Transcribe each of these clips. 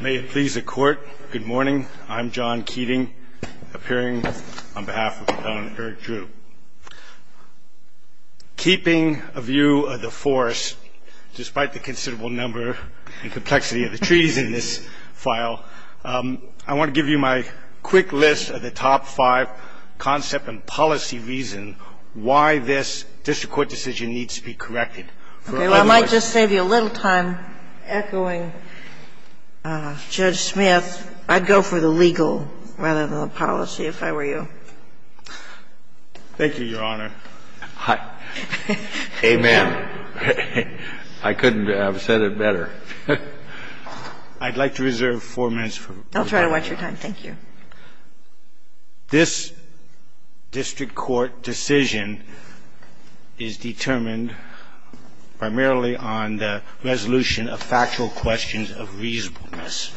May it please the court, good morning, I'm John Keating, appearing on behalf of the Appellant Eric Drew. Keeping a view of the force, despite the considerable number and complexity of the treaties in this file, I want to give you my quick list of the top five concept and policy reasons why this district court decision needs to be corrected. And I might just save you a little time echoing Judge Smith. I'd go for the legal rather than the policy if I were you. Thank you, Your Honor. Amen. I couldn't have said it better. I'd like to reserve four minutes for rebuttal. I'll try to watch your time. Thank you. This district court decision is determined primarily on the resolution of factual questions of reasonableness,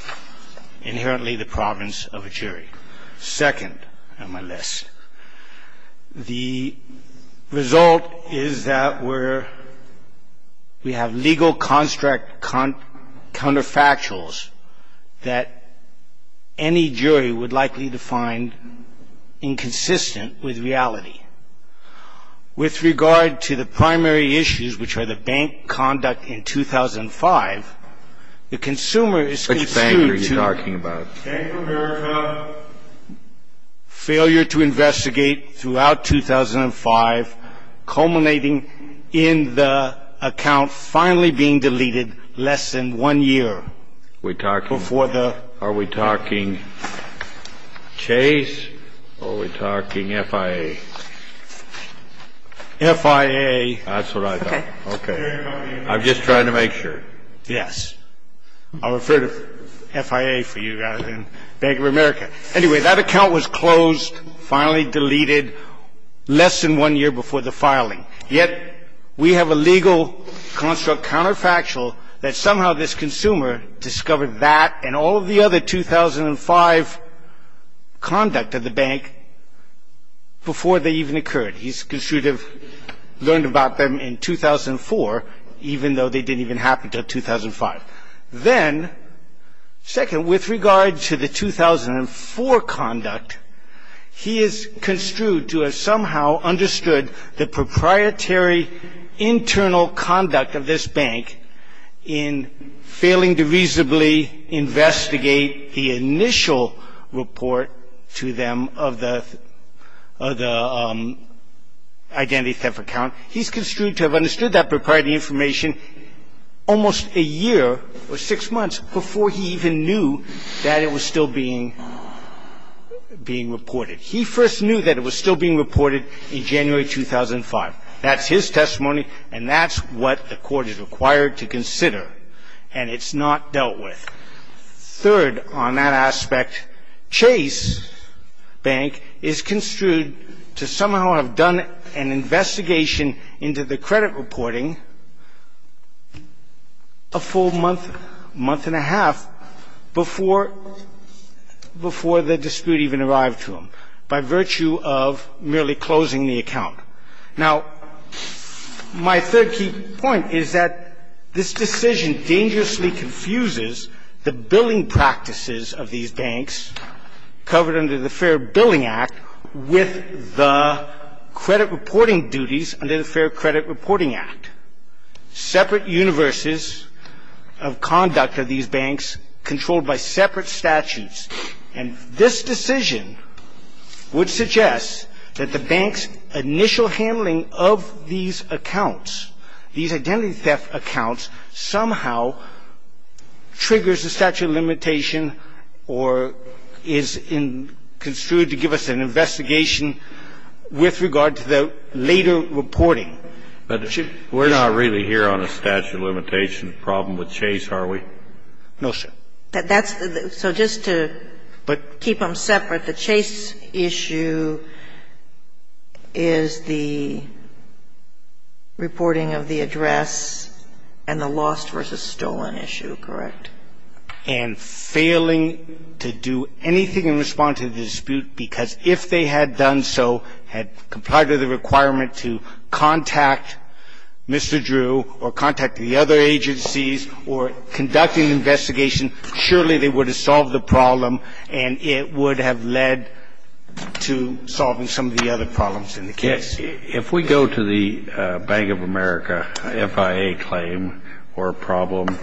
inherently the province of a jury. Second on my list. The result is that we have legal construct counterfactuals that any jury would likely define inconsistent with reality. With regard to the primary issues, which are the bank conduct in 2005, the consumer is construed to... Which bank are you talking about? Bank of America, failure to investigate throughout 2005, culminating in the account finally being deleted less than one year. Are we talking Chase or are we talking FIA? FIA. That's what I thought. Okay. I'm just trying to make sure. Yes. I'll refer to FIA for you guys and Bank of America. Anyway, that account was closed, finally deleted less than one year before the filing. Yet we have a legal construct counterfactual that somehow this consumer discovered that and all of the other 2005 conduct of the bank before they even occurred. He's construed to have learned about them in 2004, even though they didn't even happen until 2005. Then, second, with regard to the 2004 conduct, he is construed to have somehow understood the proprietary internal conduct of this bank in failing to reasonably investigate the initial report to them of the identity theft account. He's construed to have understood that proprietary information almost a year or six months before he even knew that it was still being reported. He first knew that it was still being reported in January 2005. That's his testimony and that's what the Court is required to consider, and it's not dealt with. Third, on that aspect, Chase Bank is construed to somehow have done an investigation into the credit reporting a full month, month and a half before the dispute even arrived to them by virtue of merely closing the account. Now, my third key point is that this decision dangerously confuses the billing practices of these banks covered under the Fair Billing Act with the credit reporting duties under the Fair Credit Reporting Act, separate universes of conduct of these banks controlled by separate statutes. And this decision would suggest that the bank's initial handling of these accounts, these identity theft accounts, somehow triggers the statute of limitation or is construed to give us an investigation with regard to the later reporting. We're not really here on a statute of limitation problem with Chase, are we? No, sir. So just to keep them separate, the Chase issue is the reporting of the address and the lost versus stolen issue, correct? And failing to do anything in response to the dispute because if they had done so, had complied with the requirement to contact Mr. Drew or contact the other agencies or conducted an investigation, surely they would have solved the problem and it would have led to solving some of the other problems in the case. If we go to the Bank of America FIA claim or problem,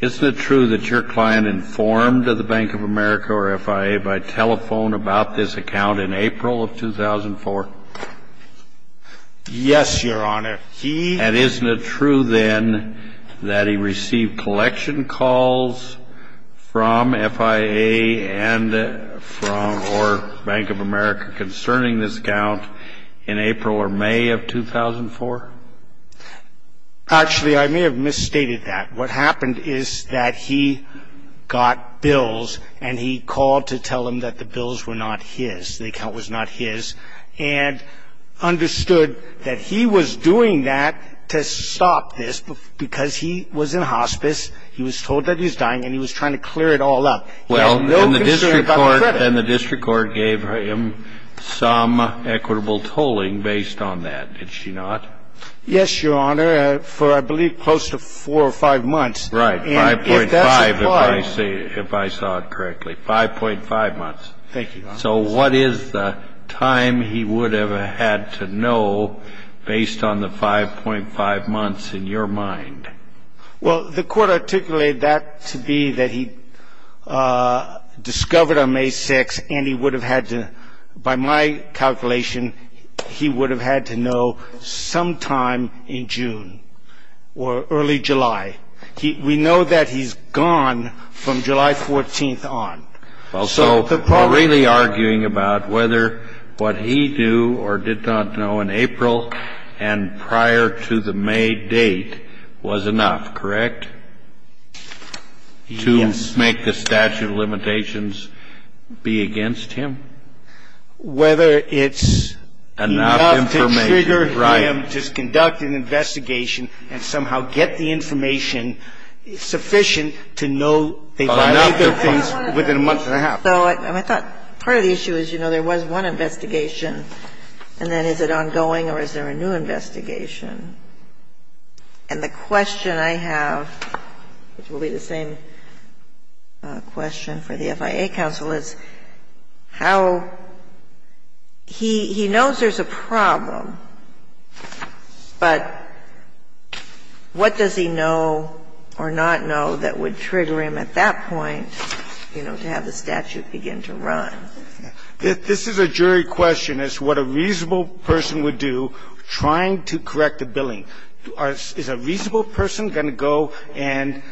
isn't it true that your client informed the Bank of America or FIA by telephone about this account in April of 2004? Yes, Your Honor. And isn't it true then that he received collection calls from FIA and from or Bank of America concerning this account in April or May of 2004? Actually, I may have misstated that. What happened is that he got bills and he called to tell them that the bills were not his, the account was not his, and understood that he was doing that to stop this because he was in hospice, he was told that he was dying, and he was trying to clear it all up. Well, and the district court gave him some equitable tolling based on that, did she not? Yes, Your Honor, for I believe close to four or five months. Right, 5.5 if I saw it correctly, 5.5 months. Thank you, Your Honor. So what is the time he would have had to know based on the 5.5 months in your mind? Well, the court articulated that to be that he discovered on May 6th and he would have had to, by my calculation, he would have had to know sometime in June or early July. We know that he's gone from July 14th on. Well, so we're really arguing about whether what he knew or did not know in April and prior to the May date was enough, correct? Yes. To make the statute of limitations be against him? Whether it's enough to trigger him to conduct an investigation and somehow get the information sufficient to know enough of things within a month and a half. So I thought part of the issue is, you know, there was one investigation, and then is it ongoing or is there a new investigation? And the question I have, which will be the same question for the FIA counsel, is how he knows there's a problem, but what does he know or not know that would trigger him at that point, you know, to have the statute begin to run? This is a jury question. It's what a reasonable person would do trying to correct the billing. Is a reasonable person going to go and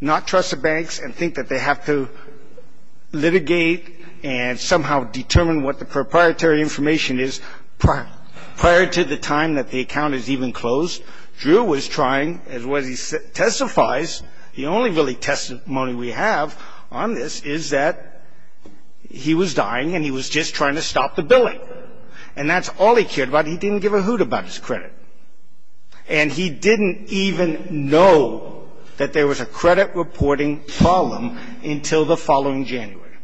not trust the banks and think that they have to litigate and somehow determine what the proprietary information is prior to the time that the account is even closed? Drew was trying, as well as he testifies, the only really testimony we have on this is that he was dying and he was just trying to stop the billing. And that's all he cared about. He didn't give a hoot about his credit. And he didn't even know that there was a credit reporting problem until the following January.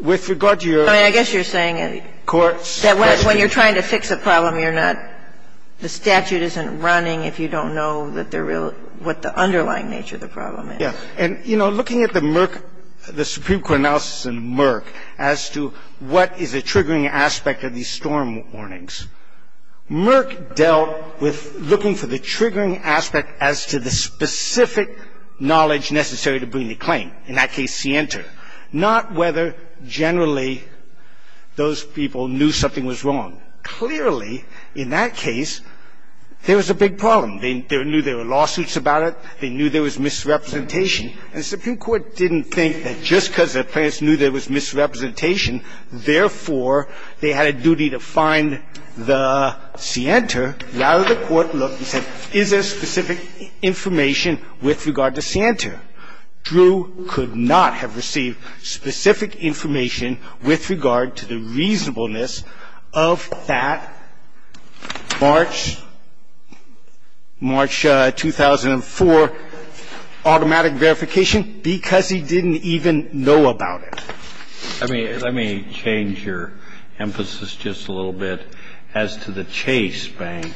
With regard to your court's question. I mean, I guess you're saying that when you're trying to fix a problem, you're not – the statute isn't running if you don't know what the underlying nature of the problem is. Yes. And, you know, looking at the Merck – the Supreme Court analysis in Merck as to what is a triggering aspect of these storm warnings, Merck dealt with looking for the triggering aspect as to the specific knowledge necessary to bring the claim. In that case, scienter. Not whether generally those people knew something was wrong. Clearly, in that case, there was a big problem. They knew there were lawsuits about it. They knew there was misrepresentation. And the Supreme Court didn't think that just because the plaintiffs knew there was misrepresentation, therefore, they had a duty to find the scienter. Rather, the court looked and said, is there specific information with regard to scienter? Drew could not have received specific information with regard to the reasonableness of that March – March 2004 automatic verification because he didn't even know about it. Let me change your emphasis just a little bit as to the Chase Bank.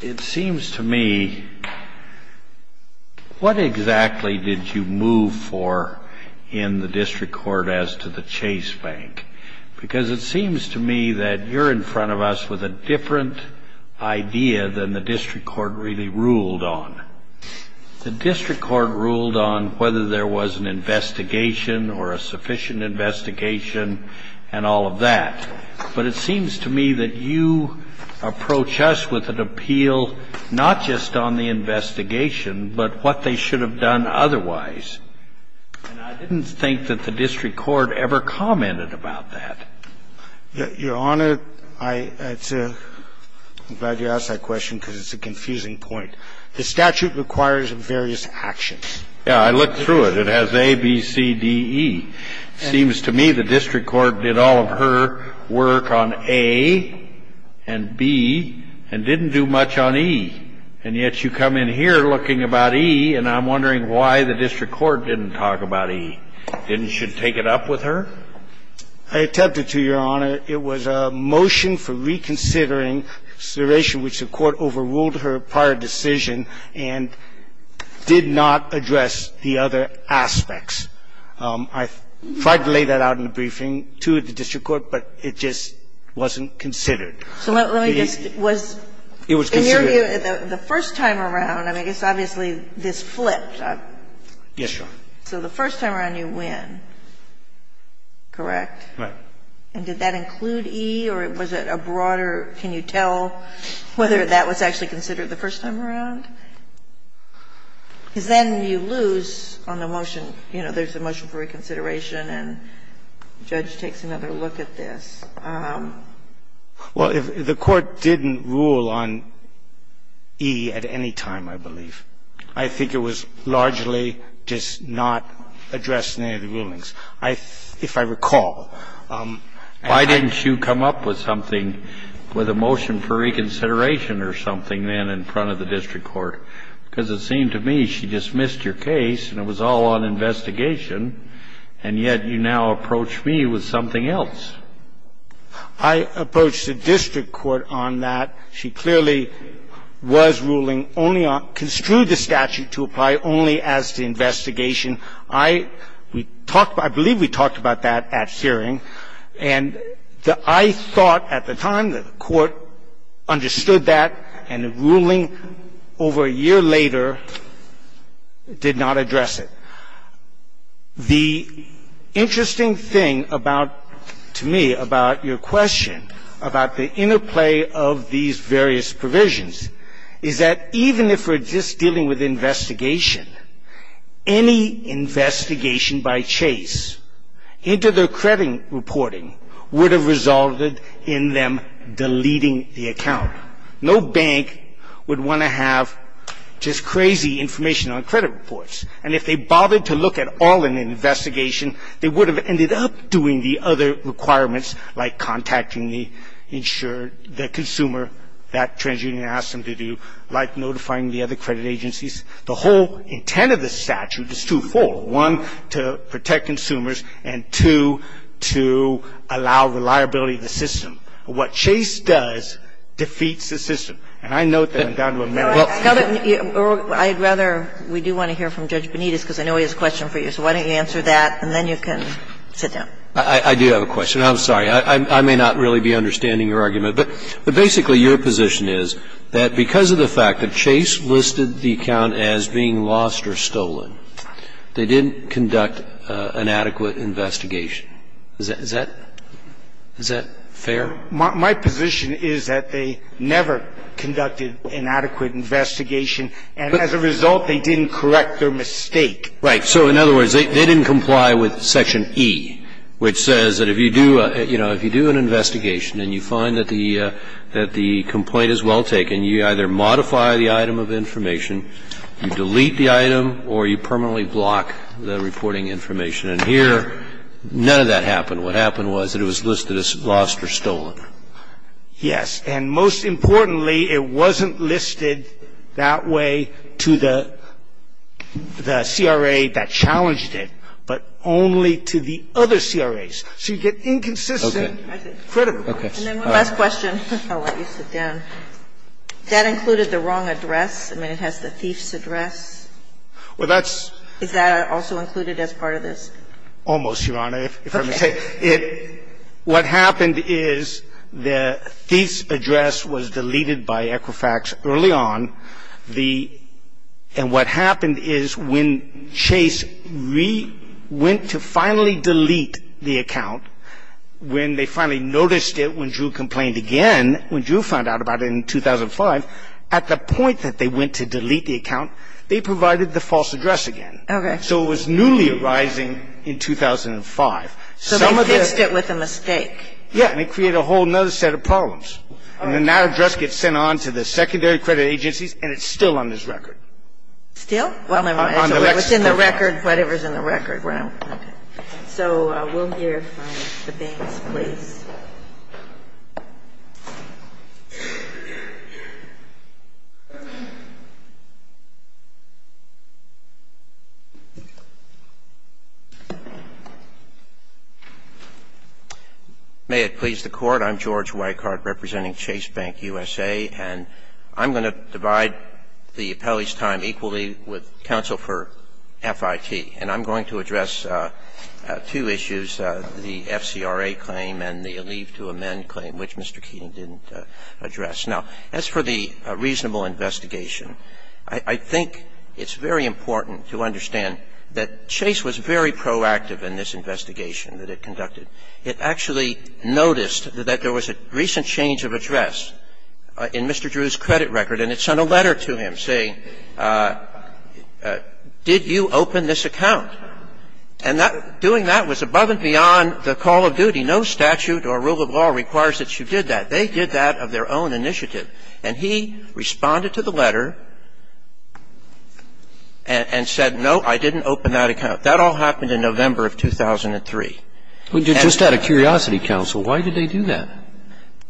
It seems to me, what exactly did you move for in the district court as to the Chase Bank? Because it seems to me that you're in front of us with a different idea than the district court really ruled on. The district court ruled on whether there was an investigation or a sufficient investigation and all of that. But it seems to me that you approach us with an appeal not just on the investigation but what they should have done otherwise. And I didn't think that the district court ever commented about that. Your Honor, I'm glad you asked that question because it's a confusing point. The statute requires various actions. Yeah, I looked through it. It has A, B, C, D, E. It seems to me the district court did all of her work on A and B and didn't do much on E. And yet you come in here looking about E, and I'm wondering why the district court didn't talk about E. Didn't she take it up with her? I attempted to, Your Honor. It was a motion for reconsidering, consideration which the court overruled her prior decision and did not address the other aspects. I tried to lay that out in the briefing to the district court, but it just wasn't considered. So let me just ask. It was considered. In your view, the first time around, I mean, I guess obviously this flipped. Yes, Your Honor. So the first time around you win, correct? Right. And did that include E or was it a broader, can you tell whether that was actually considered the first time around? Because then you lose on the motion. You know, there's a motion for reconsideration, and the judge takes another look at this. Well, the court didn't rule on E at any time, I believe. I think it was largely just not addressed in any of the rulings. If I recall. Why didn't you come up with something, with a motion for reconsideration or something then in front of the district court? Because it seemed to me she just missed your case and it was all on investigation, and yet you now approach me with something else. I approached the district court on that. She clearly was ruling only on, construed the statute to apply only as to investigation. I believe we talked about that at hearing, and I thought at the time that the court understood that and the ruling over a year later did not address it. The interesting thing about, to me, about your question about the interplay of these various provisions is that even if we're just dealing with investigation, any investigation by Chase into their credit reporting would have resulted in them deleting the account. No bank would want to have just crazy information on credit reports, and if they bothered to look at all in an investigation, they would have ended up doing the other requirements, like contacting the consumer that TransUnion asked them to do, like notifying the other credit agencies. The whole intent of the statute is twofold. One, to protect consumers, and two, to allow reliability of the system. What Chase does defeats the system. And I note that I'm down to a minute. Kagan. I'd rather we do want to hear from Judge Benitez because I know he has a question for you, so why don't you answer that and then you can sit down. I do have a question. I'm sorry. I may not really be understanding your argument. But basically, your position is that because of the fact that Chase listed the account as being lost or stolen, they didn't conduct an adequate investigation. Is that fair? My position is that they never conducted an adequate investigation, and as a result, they didn't correct their mistake. Right. So in other words, they didn't comply with Section E, which says that if you do an investigation and you find that the complaint is well taken, you either modify the item of information, you delete the item, or you permanently block the reporting information. And here, none of that happened. What happened was that it was listed as lost or stolen. Yes. And most importantly, it wasn't listed that way to the CRA that challenged it, but only to the other CRAs. So you get inconsistent credibility. And then one last question. I'll let you sit down. That included the wrong address? I mean, it has the thief's address. Well, that's – Is that also included as part of this? Almost, Your Honor, if I may say. Okay. It – what happened is the thief's address was deleted by Equifax early on. And what happened is when Chase went to finally delete the account, when they finally noticed it, when Drew complained again, when Drew found out about it in 2005, at the point that they went to delete the account, they provided the false address again. Okay. So it was newly arising in 2005. So they fixed it with a mistake. Yes. And it created a whole other set of problems. And the now address gets sent on to the secondary credit agencies, and it's still on this record. Still? Well, never mind. It's in the record, whatever's in the record. Right. Okay. So we'll hear from the banks, please. May it please the Court. I'm George Weichart representing Chase Bank USA, and I'm going to divide the appellee's time equally with counsel for FIT. And I'm going to address two issues, the FCRA claim and the leave to amend claim, which Mr. Keating didn't address. Now, as for the reasonable investigation, I think it's very important to understand that Chase was very proactive in this investigation that it conducted. It actually noticed that there was a recent change of address in Mr. Drew's credit record, and it sent a letter to him saying, did you open this account? And doing that was above and beyond the call of duty. No statute or rule of law requires that you did that. They did that of their own initiative. And he responded to the letter and said, no, I didn't open that account. That all happened in November of 2003. Just out of curiosity, counsel, why did they do that?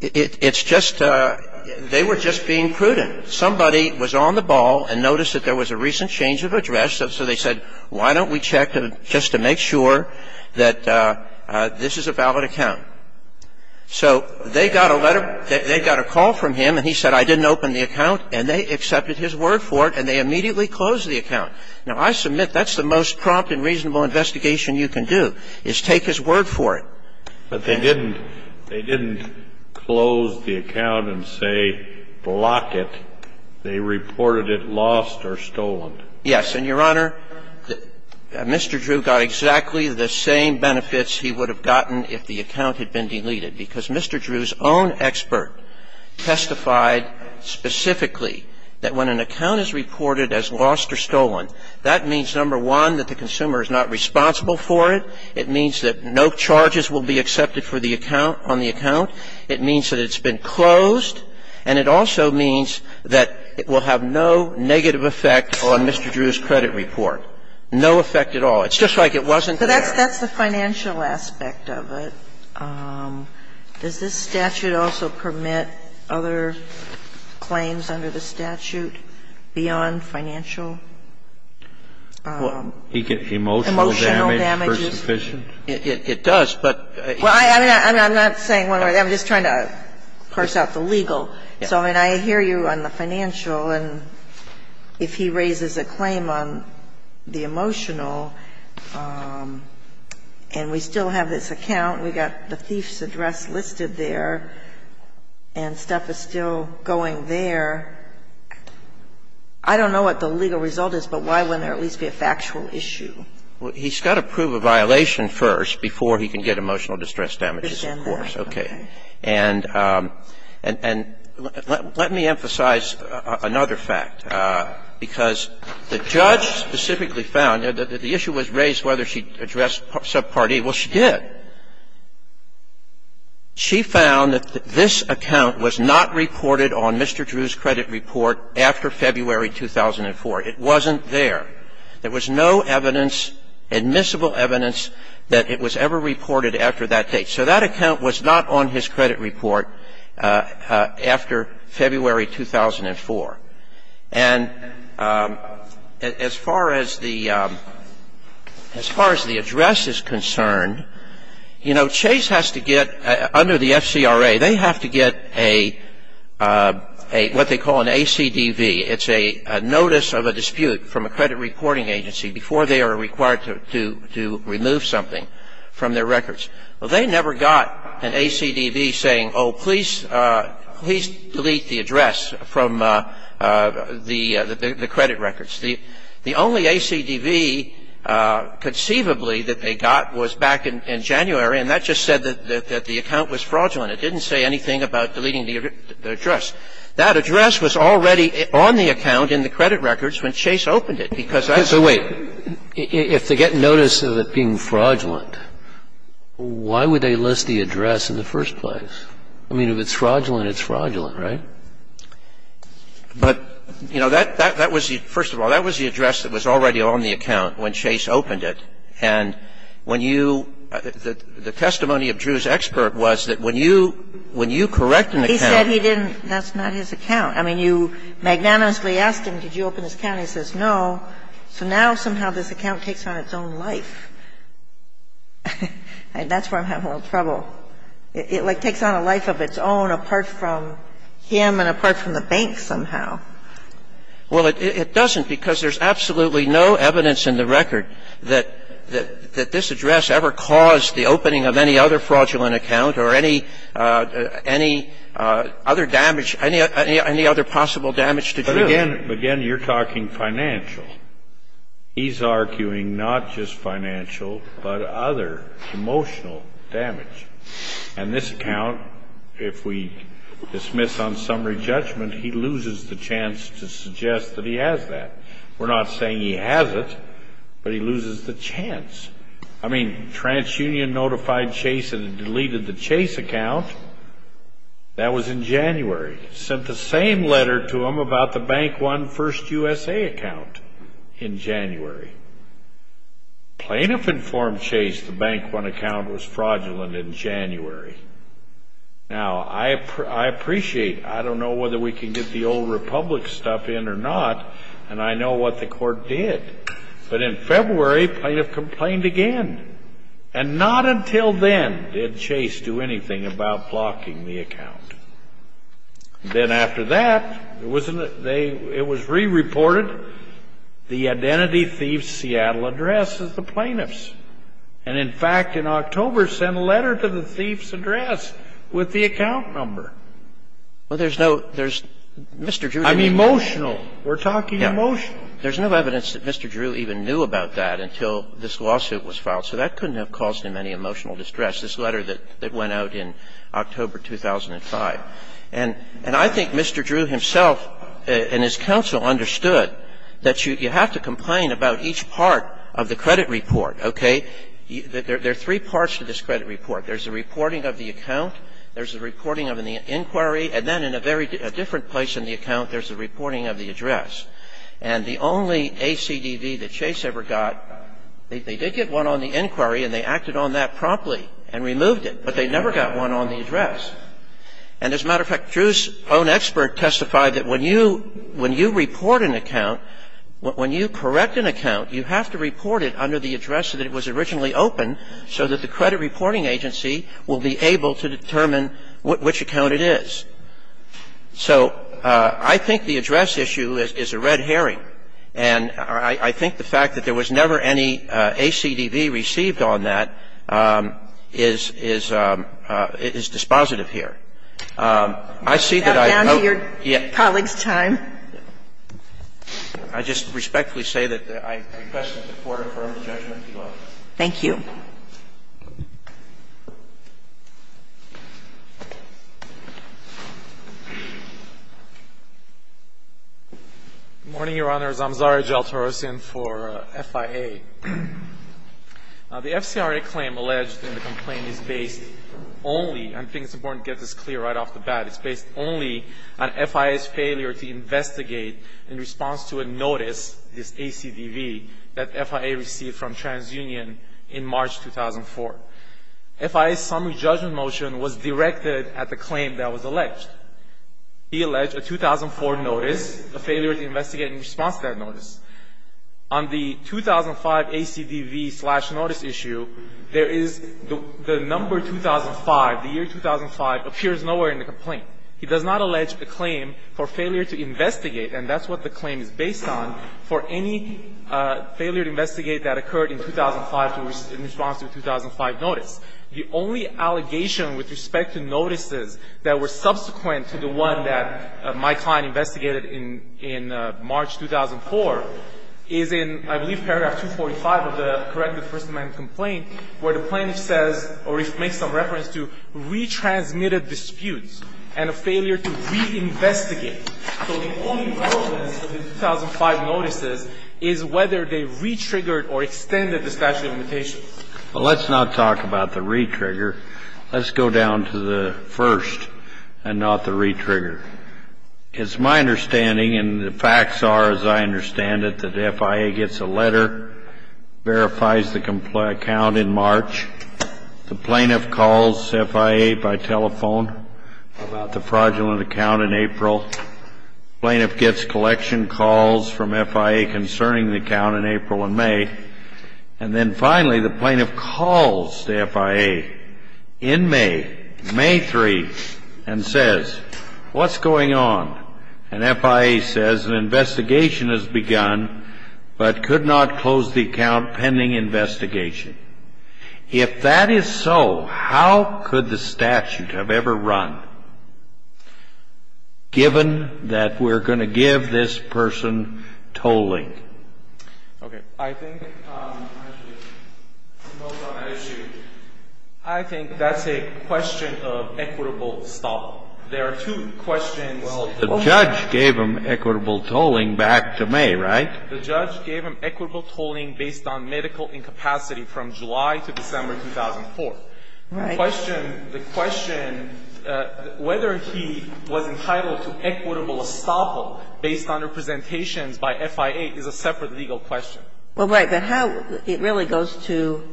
It's just they were just being prudent. Somebody was on the ball and noticed that there was a recent change of address, so they said, why don't we check just to make sure that this is a valid account. So they got a letter, they got a call from him, and he said, I didn't open the account, and they accepted his word for it, and they immediately closed the account. Now, I submit that's the most prompt and reasonable investigation you can do, is take his word for it. But they didn't close the account and say block it. They reported it lost or stolen. Yes. And, Your Honor, Mr. Drew got exactly the same benefits he would have gotten if the account had been deleted, because Mr. Drew's own expert testified specifically that when an account is reported as lost or stolen, that means, number one, that the consumer is not responsible for it. It means that no charges will be accepted for the account, on the account. It means that it's been closed. And it also means that it will have no negative effect on Mr. Drew's credit report. No effect at all. It's just like it wasn't there. But that's the financial aspect of it. Sotomayor, does this statute also permit other claims under the statute beyond financial? Emotional damage. Emotional damages. It does, but. Well, I'm not saying one way or the other. I'm just trying to parse out the legal. So, I mean, I hear you on the financial, and if he raises a claim on the emotional and we still have this account, we've got the thief's address listed there, and stuff is still going there, I don't know what the legal result is, but why wouldn't there at least be a factual issue? Well, he's got to prove a violation first before he can get emotional distress damages, of course. And let me emphasize another fact, because the judge specifically found that the issue was raised whether she addressed subpart A. Well, she did. She found that this account was not reported on Mr. Drew's credit report after February 2004. It wasn't there. There was no evidence, admissible evidence, that it was ever reported after that date. So that account was not on his credit report after February 2004. And as far as the address is concerned, you know, Chase has to get, under the FCRA, they have to get a, what they call an ACDV. It's a notice of a dispute from a credit reporting agency before they are required to remove something from their records. Well, they never got an ACDV saying, oh, please, please delete the address from the credit records. The only ACDV conceivably that they got was back in January, and that just said that the account was fraudulent. It didn't say anything about deleting the address. That address was already on the account in the credit records when Chase opened it, because that's the way it was. But if the address was true fraudulent, why would they list the address in the first place? I mean, if it's fraudulent, it's fraudulent, right? But, you know, that was the – first of all, that was the address that was already on the account when Chase opened it, and when you – the testimony of Drew's expert was that when you correct an account. He said he didn't. That's not his account. I mean, you magnanimously asked him, did you open this account? He says, no. So now somehow this account takes on its own life. And that's where I'm having a little trouble. It, like, takes on a life of its own apart from him and apart from the bank somehow. Well, it doesn't, because there's absolutely no evidence in the record that this address ever caused the opening of any other fraudulent account or any other damage – any other possible damage to Drew. But again, you're talking financial. He's arguing not just financial, but other emotional damage. And this account, if we dismiss on summary judgment, he loses the chance to suggest that he has that. We're not saying he has it, but he loses the chance. I mean, TransUnion notified Chase and deleted the Chase account. That was in January. Sent the same letter to him about the Bank One First USA account in January. Plaintiff informed Chase the Bank One account was fraudulent in January. Now, I appreciate – I don't know whether we can get the old Republic stuff in or not, and I know what the court did. But in February, plaintiff complained again. And not until then did Chase do anything about blocking the account. Then after that, it was re-reported, the identity thief's Seattle address as the plaintiff's. And in fact, in October, sent a letter to the thief's address with the account number. Well, there's no – there's – Mr. Drew didn't – I'm emotional. We're talking emotional. There's no evidence that Mr. Drew even knew about that until this lawsuit was filed. So that couldn't have caused him any emotional distress, this letter that went out in October 2005. And I think Mr. Drew himself and his counsel understood that you have to complain about each part of the credit report, okay? There are three parts to this credit report. There's the reporting of the account. There's the reporting of the inquiry. And then in a very different place in the account, there's the reporting of the address. And the only ACDV that Chase ever got, they did get one on the inquiry and they acted on that promptly and removed it, but they never got one on the address. And as a matter of fact, Drew's own expert testified that when you – when you report an account, when you correct an account, you have to report it under the address that it was originally open so that the credit reporting agency will be able to determine which account it is. So I think the address issue is a red herring, and I think the fact that there was never any ACDV received on that is – is dispositive here. I see that I have no – You're back down to your colleague's time. I just respectfully say that I request that the Court affirm the judgment below. Thank you. Good morning, Your Honors. I'm Zaria Jal Torosian for FIA. The FCRA claim alleged in the complaint is based only – I think it's important to get this clear right off the bat. It's based only on FIA's failure to investigate in response to a notice, this ACDV, that FIA received from TransUnion in March 2004. FIA's summary judgment motion was directed at the claim that was alleged. He alleged a 2004 notice, a failure to investigate in response to that notice. On the 2005 ACDV-slash-notice issue, there is the number 2005. The year 2005 appears nowhere in the complaint. He does not allege a claim for failure to investigate, and that's what the claim is based on, for any failure to investigate that occurred in 2005 in response to a 2005 notice. The only allegation with respect to notices that were subsequent to the one that my client investigated in March 2004 is in, I believe, paragraph 245 of the Corrective First Amendment complaint, where the plaintiff says, or makes some reference to, retransmitted disputes and a failure to reinvestigate. So the only relevance to the 2005 notices is whether they re-triggered or extended the statute of limitations. Well, let's not talk about the re-trigger. Let's go down to the first and not the re-trigger. It's my understanding, and the facts are as I understand it, that FIA gets a letter, verifies the complaint account in March. The plaintiff calls FIA by telephone about the fraudulent account in April. The plaintiff gets collection calls from FIA concerning the account in April and May. And then, finally, the plaintiff calls the FIA in May, May 3, and says, what's going on? And FIA says an investigation has begun but could not close the account pending investigation. If that is so, how could the statute have ever run, given that we're going to give this person tolling? Okay. I think that's a question of equitable stop. There are two questions. Well, the judge gave them equitable tolling back to May, right? The judge gave them equitable tolling based on medical incapacity from July to December 2004. Right. The question, the question whether he was entitled to equitable estoppel based on representations by FIA is a separate legal question. Well, right. But how it really goes to,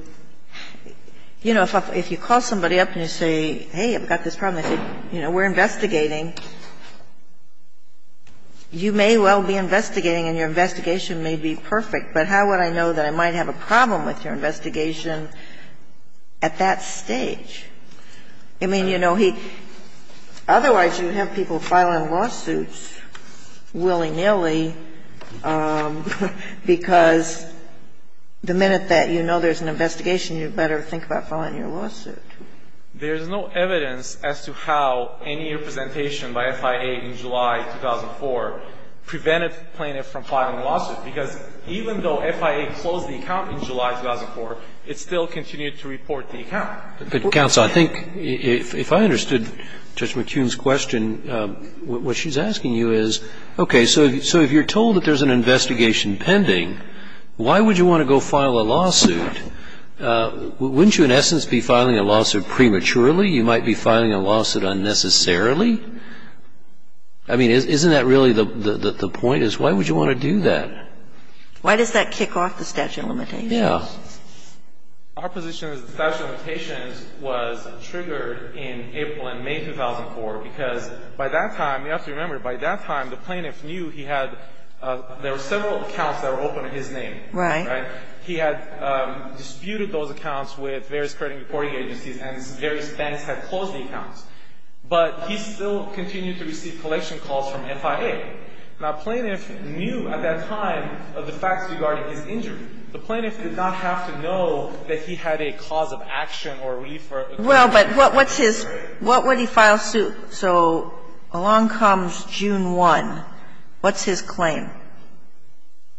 you know, if you call somebody up and you say, hey, I've got this problem. I say, you know, we're investigating. You may well be investigating and your investigation may be perfect, but how would I know that I might have a problem with your investigation at that stage? I mean, you know, he otherwise you'd have people filing lawsuits willy-nilly because the minute that you know there's an investigation, you better think about filing your lawsuit. There's no evidence as to how any representation by FIA in July 2004 prevented plaintiff from filing a lawsuit, because even though FIA closed the account in July 2004, it still continued to report the account. But, counsel, I think if I understood Judge McCune's question, what she's asking you is, okay, so if you're told that there's an investigation pending, why would you want to go file a lawsuit? Wouldn't you, in essence, be filing a lawsuit prematurely? You might be filing a lawsuit unnecessarily. I mean, isn't that really the point, is why would you want to do that? Why does that kick off the statute of limitations? Yeah. Our position is the statute of limitations was triggered in April and May 2004, because by that time, you have to remember, by that time the plaintiff knew he had there were several accounts that were open in his name. Right. He had disputed those accounts with various credit reporting agencies, and various banks had closed the accounts. But he still continued to receive collection calls from FIA. Now, plaintiff knew at that time of the facts regarding his injury. The plaintiff did not have to know that he had a cause of action or relief for a claim. Well, but what's his, what would he file suit? So along comes June 1. What's his claim?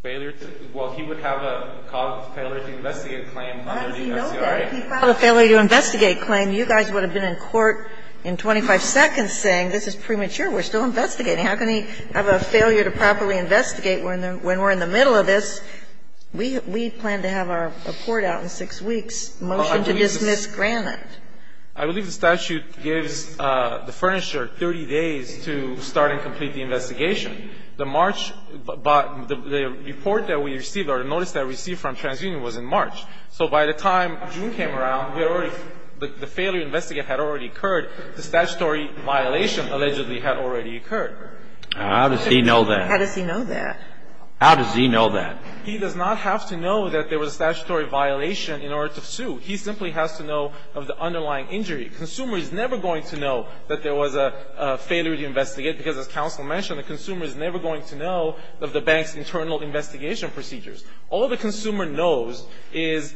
Failure to, well, he would have a cause of failure to investigate claim under the FCRA. He filed a failure to investigate claim. You guys would have been in court in 25 seconds saying this is premature. We're still investigating. How can he have a failure to properly investigate when we're in the middle of this? We plan to have our report out in 6 weeks. Motion to dismiss granted. I believe the statute gives the Furnisher 30 days to start and complete the investigation. The March, but the report that we received or the notice that we received from TransUnion was in March. So by the time June came around, we had already, the failure to investigate had already occurred. The statutory violation allegedly had already occurred. How does he know that? How does he know that? How does he know that? He does not have to know that there was a statutory violation in order to sue. He simply has to know of the underlying injury. Consumer is never going to know that there was a failure to investigate, because as counsel mentioned, the consumer is never going to know of the bank's internal investigation procedures. All the consumer knows is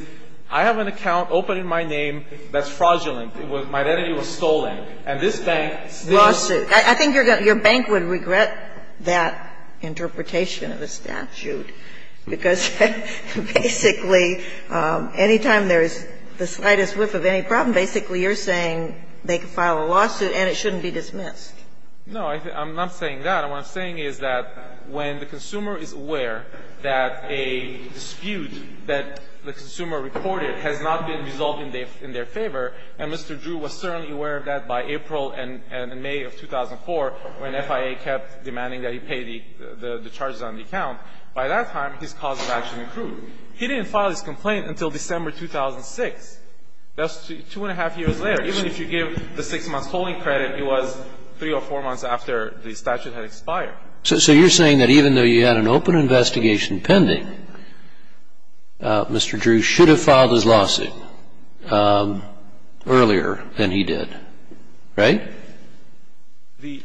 I have an account open in my name that's fraudulent. My identity was stolen. And this bank still. Sotomayor, I think your bank would regret that interpretation of the statute, because basically any time there is the slightest whiff of any problem, basically you're saying they can file a lawsuit and it shouldn't be dismissed. No. I'm not saying that. What I'm saying is that when the consumer is aware that a dispute that the consumer reported has not been resolved in their favor, and Mr. Drew was certainly aware of that by April and May of 2004 when FIA kept demanding that he pay the charges on the account, by that time his cause of action accrued. He didn't file his complaint until December 2006. That's two and a half years later. Even if you give the six-month holding credit, it was three or four months after the statute had expired. So you're saying that even though you had an open investigation pending, Mr. Drew should have filed his lawsuit earlier than he did, right? The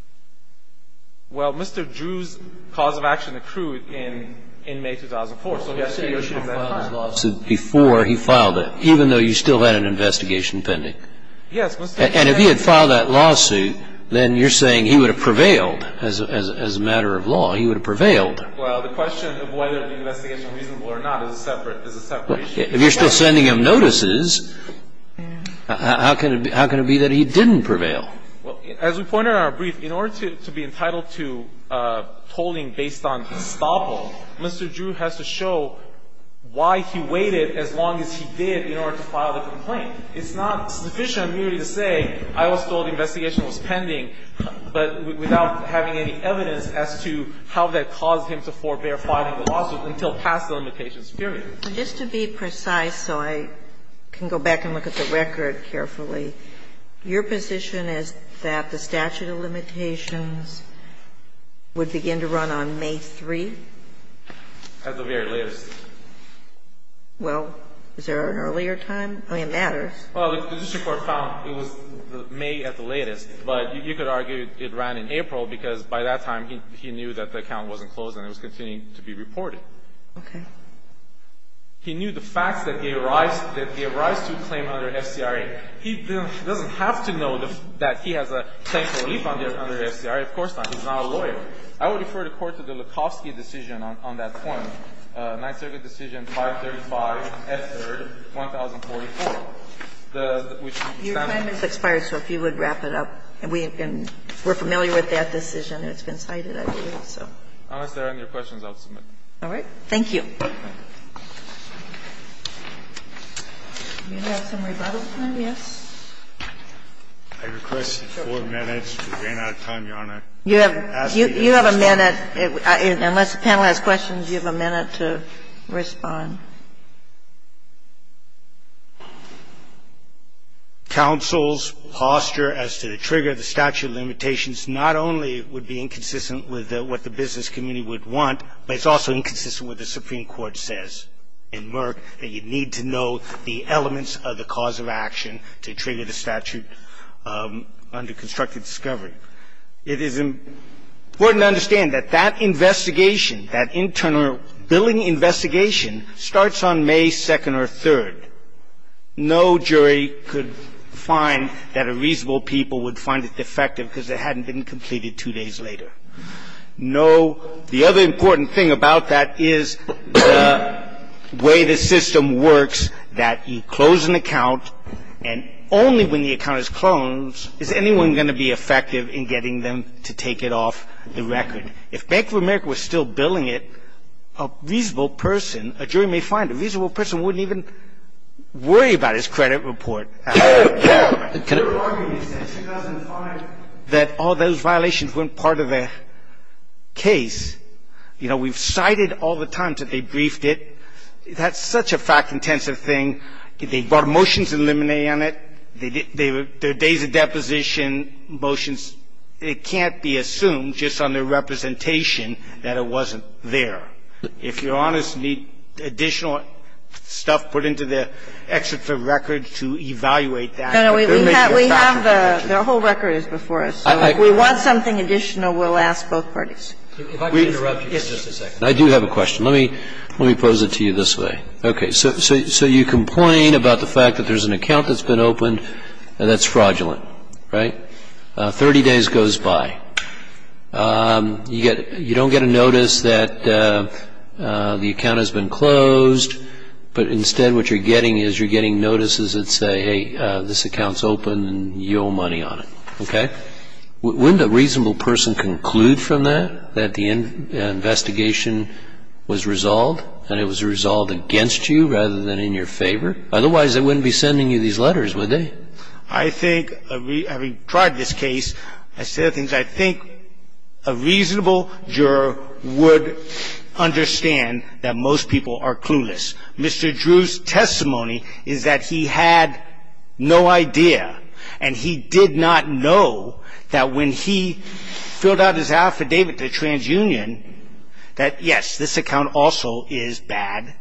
– well, Mr. Drew's cause of action accrued in May 2004. So yes, he should have filed his lawsuit before he filed it, even though you still had an investigation pending. Yes. And if he had filed that lawsuit, then you're saying he would have prevailed as a matter of law. He would have prevailed. Well, the question of whether the investigation was reasonable or not is a separate issue. If you're still sending him notices, how can it be that he didn't prevail? Well, as we pointed out in our brief, in order to be entitled to tolling based on estoppel, Mr. Drew has to show why he waited as long as he did in order to file the complaint. It's not sufficient merely to say, I was told the investigation was pending, but without having any evidence as to how that caused him to forbear filing the lawsuit until past the limitations period. And just to be precise, so I can go back and look at the record carefully, your position is that the statute of limitations would begin to run on May 3? At the very latest. Well, is there an earlier time? I mean, it matters. Well, the district court found it was May at the latest, but you could argue it ran in April because by that time he knew that the account wasn't closed and it was continuing to be reported. Okay. He knew the facts that he arrives to claim under FCRA. He doesn't have to know that he has a claim for relief under FCRA. Of course not. He's not a lawyer. I would refer the Court to the Lukowski decision on that point, Ninth Circuit decision 535S3, 1044. Your time has expired, so if you would wrap it up. We're familiar with that decision. It's been cited. Unless there are any questions, I'll submit. All right. Thank you. Do you have some rebuttal time? Yes. I request four minutes. We ran out of time, Your Honor. You have a minute. Unless the panel has questions, you have a minute to respond. Counsel's posture as to the trigger of the statute of limitations not only would be inconsistent with what the business community would want, but it's also inconsistent with what the Supreme Court says in Merck, that you need to know the elements of the cause of action to trigger the statute under constructive discovery. It is important to understand that that investigation, that internal billing investigation starts on May 2nd or 3rd. No jury could find that a reasonable people would find it defective because it hadn't been completed two days later. No. The other important thing about that is the way the system works, that you close an account and only when the account is closed is anyone going to be effective in getting them to take it off the record. If Bank of America was still billing it, a reasonable person, a jury may find a reasonable person wouldn't even worry about his credit report. Your argument in 2005 that all those violations weren't part of the case, you know, we've cited all the times that they briefed it. That's such a fact-intensive thing. They brought motions in limine on it. There are days of deposition, motions. It can't be assumed just on their representation that it wasn't there. So if you're honest, you need additional stuff put into the exit for record to evaluate that. No, no. We have the whole record is before us. If we want something additional, we'll ask both parties. If I could interrupt you for just a second. I do have a question. Let me pose it to you this way. Okay. So you complain about the fact that there's an account that's been opened and that's fraudulent, right? 30 days goes by. You don't get a notice that the account has been closed, but instead what you're getting is you're getting notices that say, hey, this account's open and you owe money on it. Okay? Wouldn't a reasonable person conclude from that that the investigation was resolved and it was resolved against you rather than in your favor? Otherwise, they wouldn't be sending you these letters, would they? I think, having tried this case, a set of things, I think a reasonable juror would understand that most people are clueless. Mr. Drew's testimony is that he had no idea and he did not know that when he filled out his affidavit to TransUnion that, yes, this account also is bad,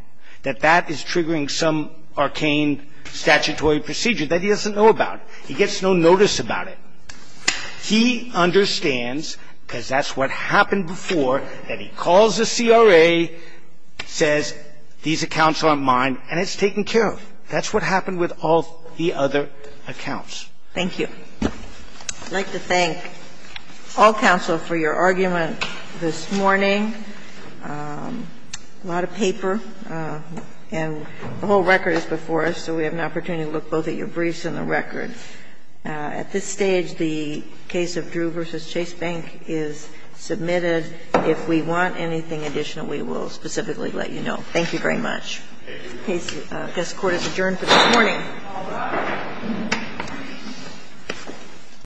that that is triggering some arcane statutory procedure that he doesn't know about. He gets no notice about it. He understands, because that's what happened before, that he calls the CRA, says these accounts aren't mine, and it's taken care of. That's what happened with all the other accounts. Thank you. I'd like to thank all counsel for your argument this morning. A lot of paper, and the whole record is before us, so we have an opportunity to look both at your briefs and the record. At this stage, the case of Drew v. Chase Bank is submitted. If we want anything additional, we will specifically let you know. Thank you very much. Thank you. This Court is adjourned for this morning. All rise.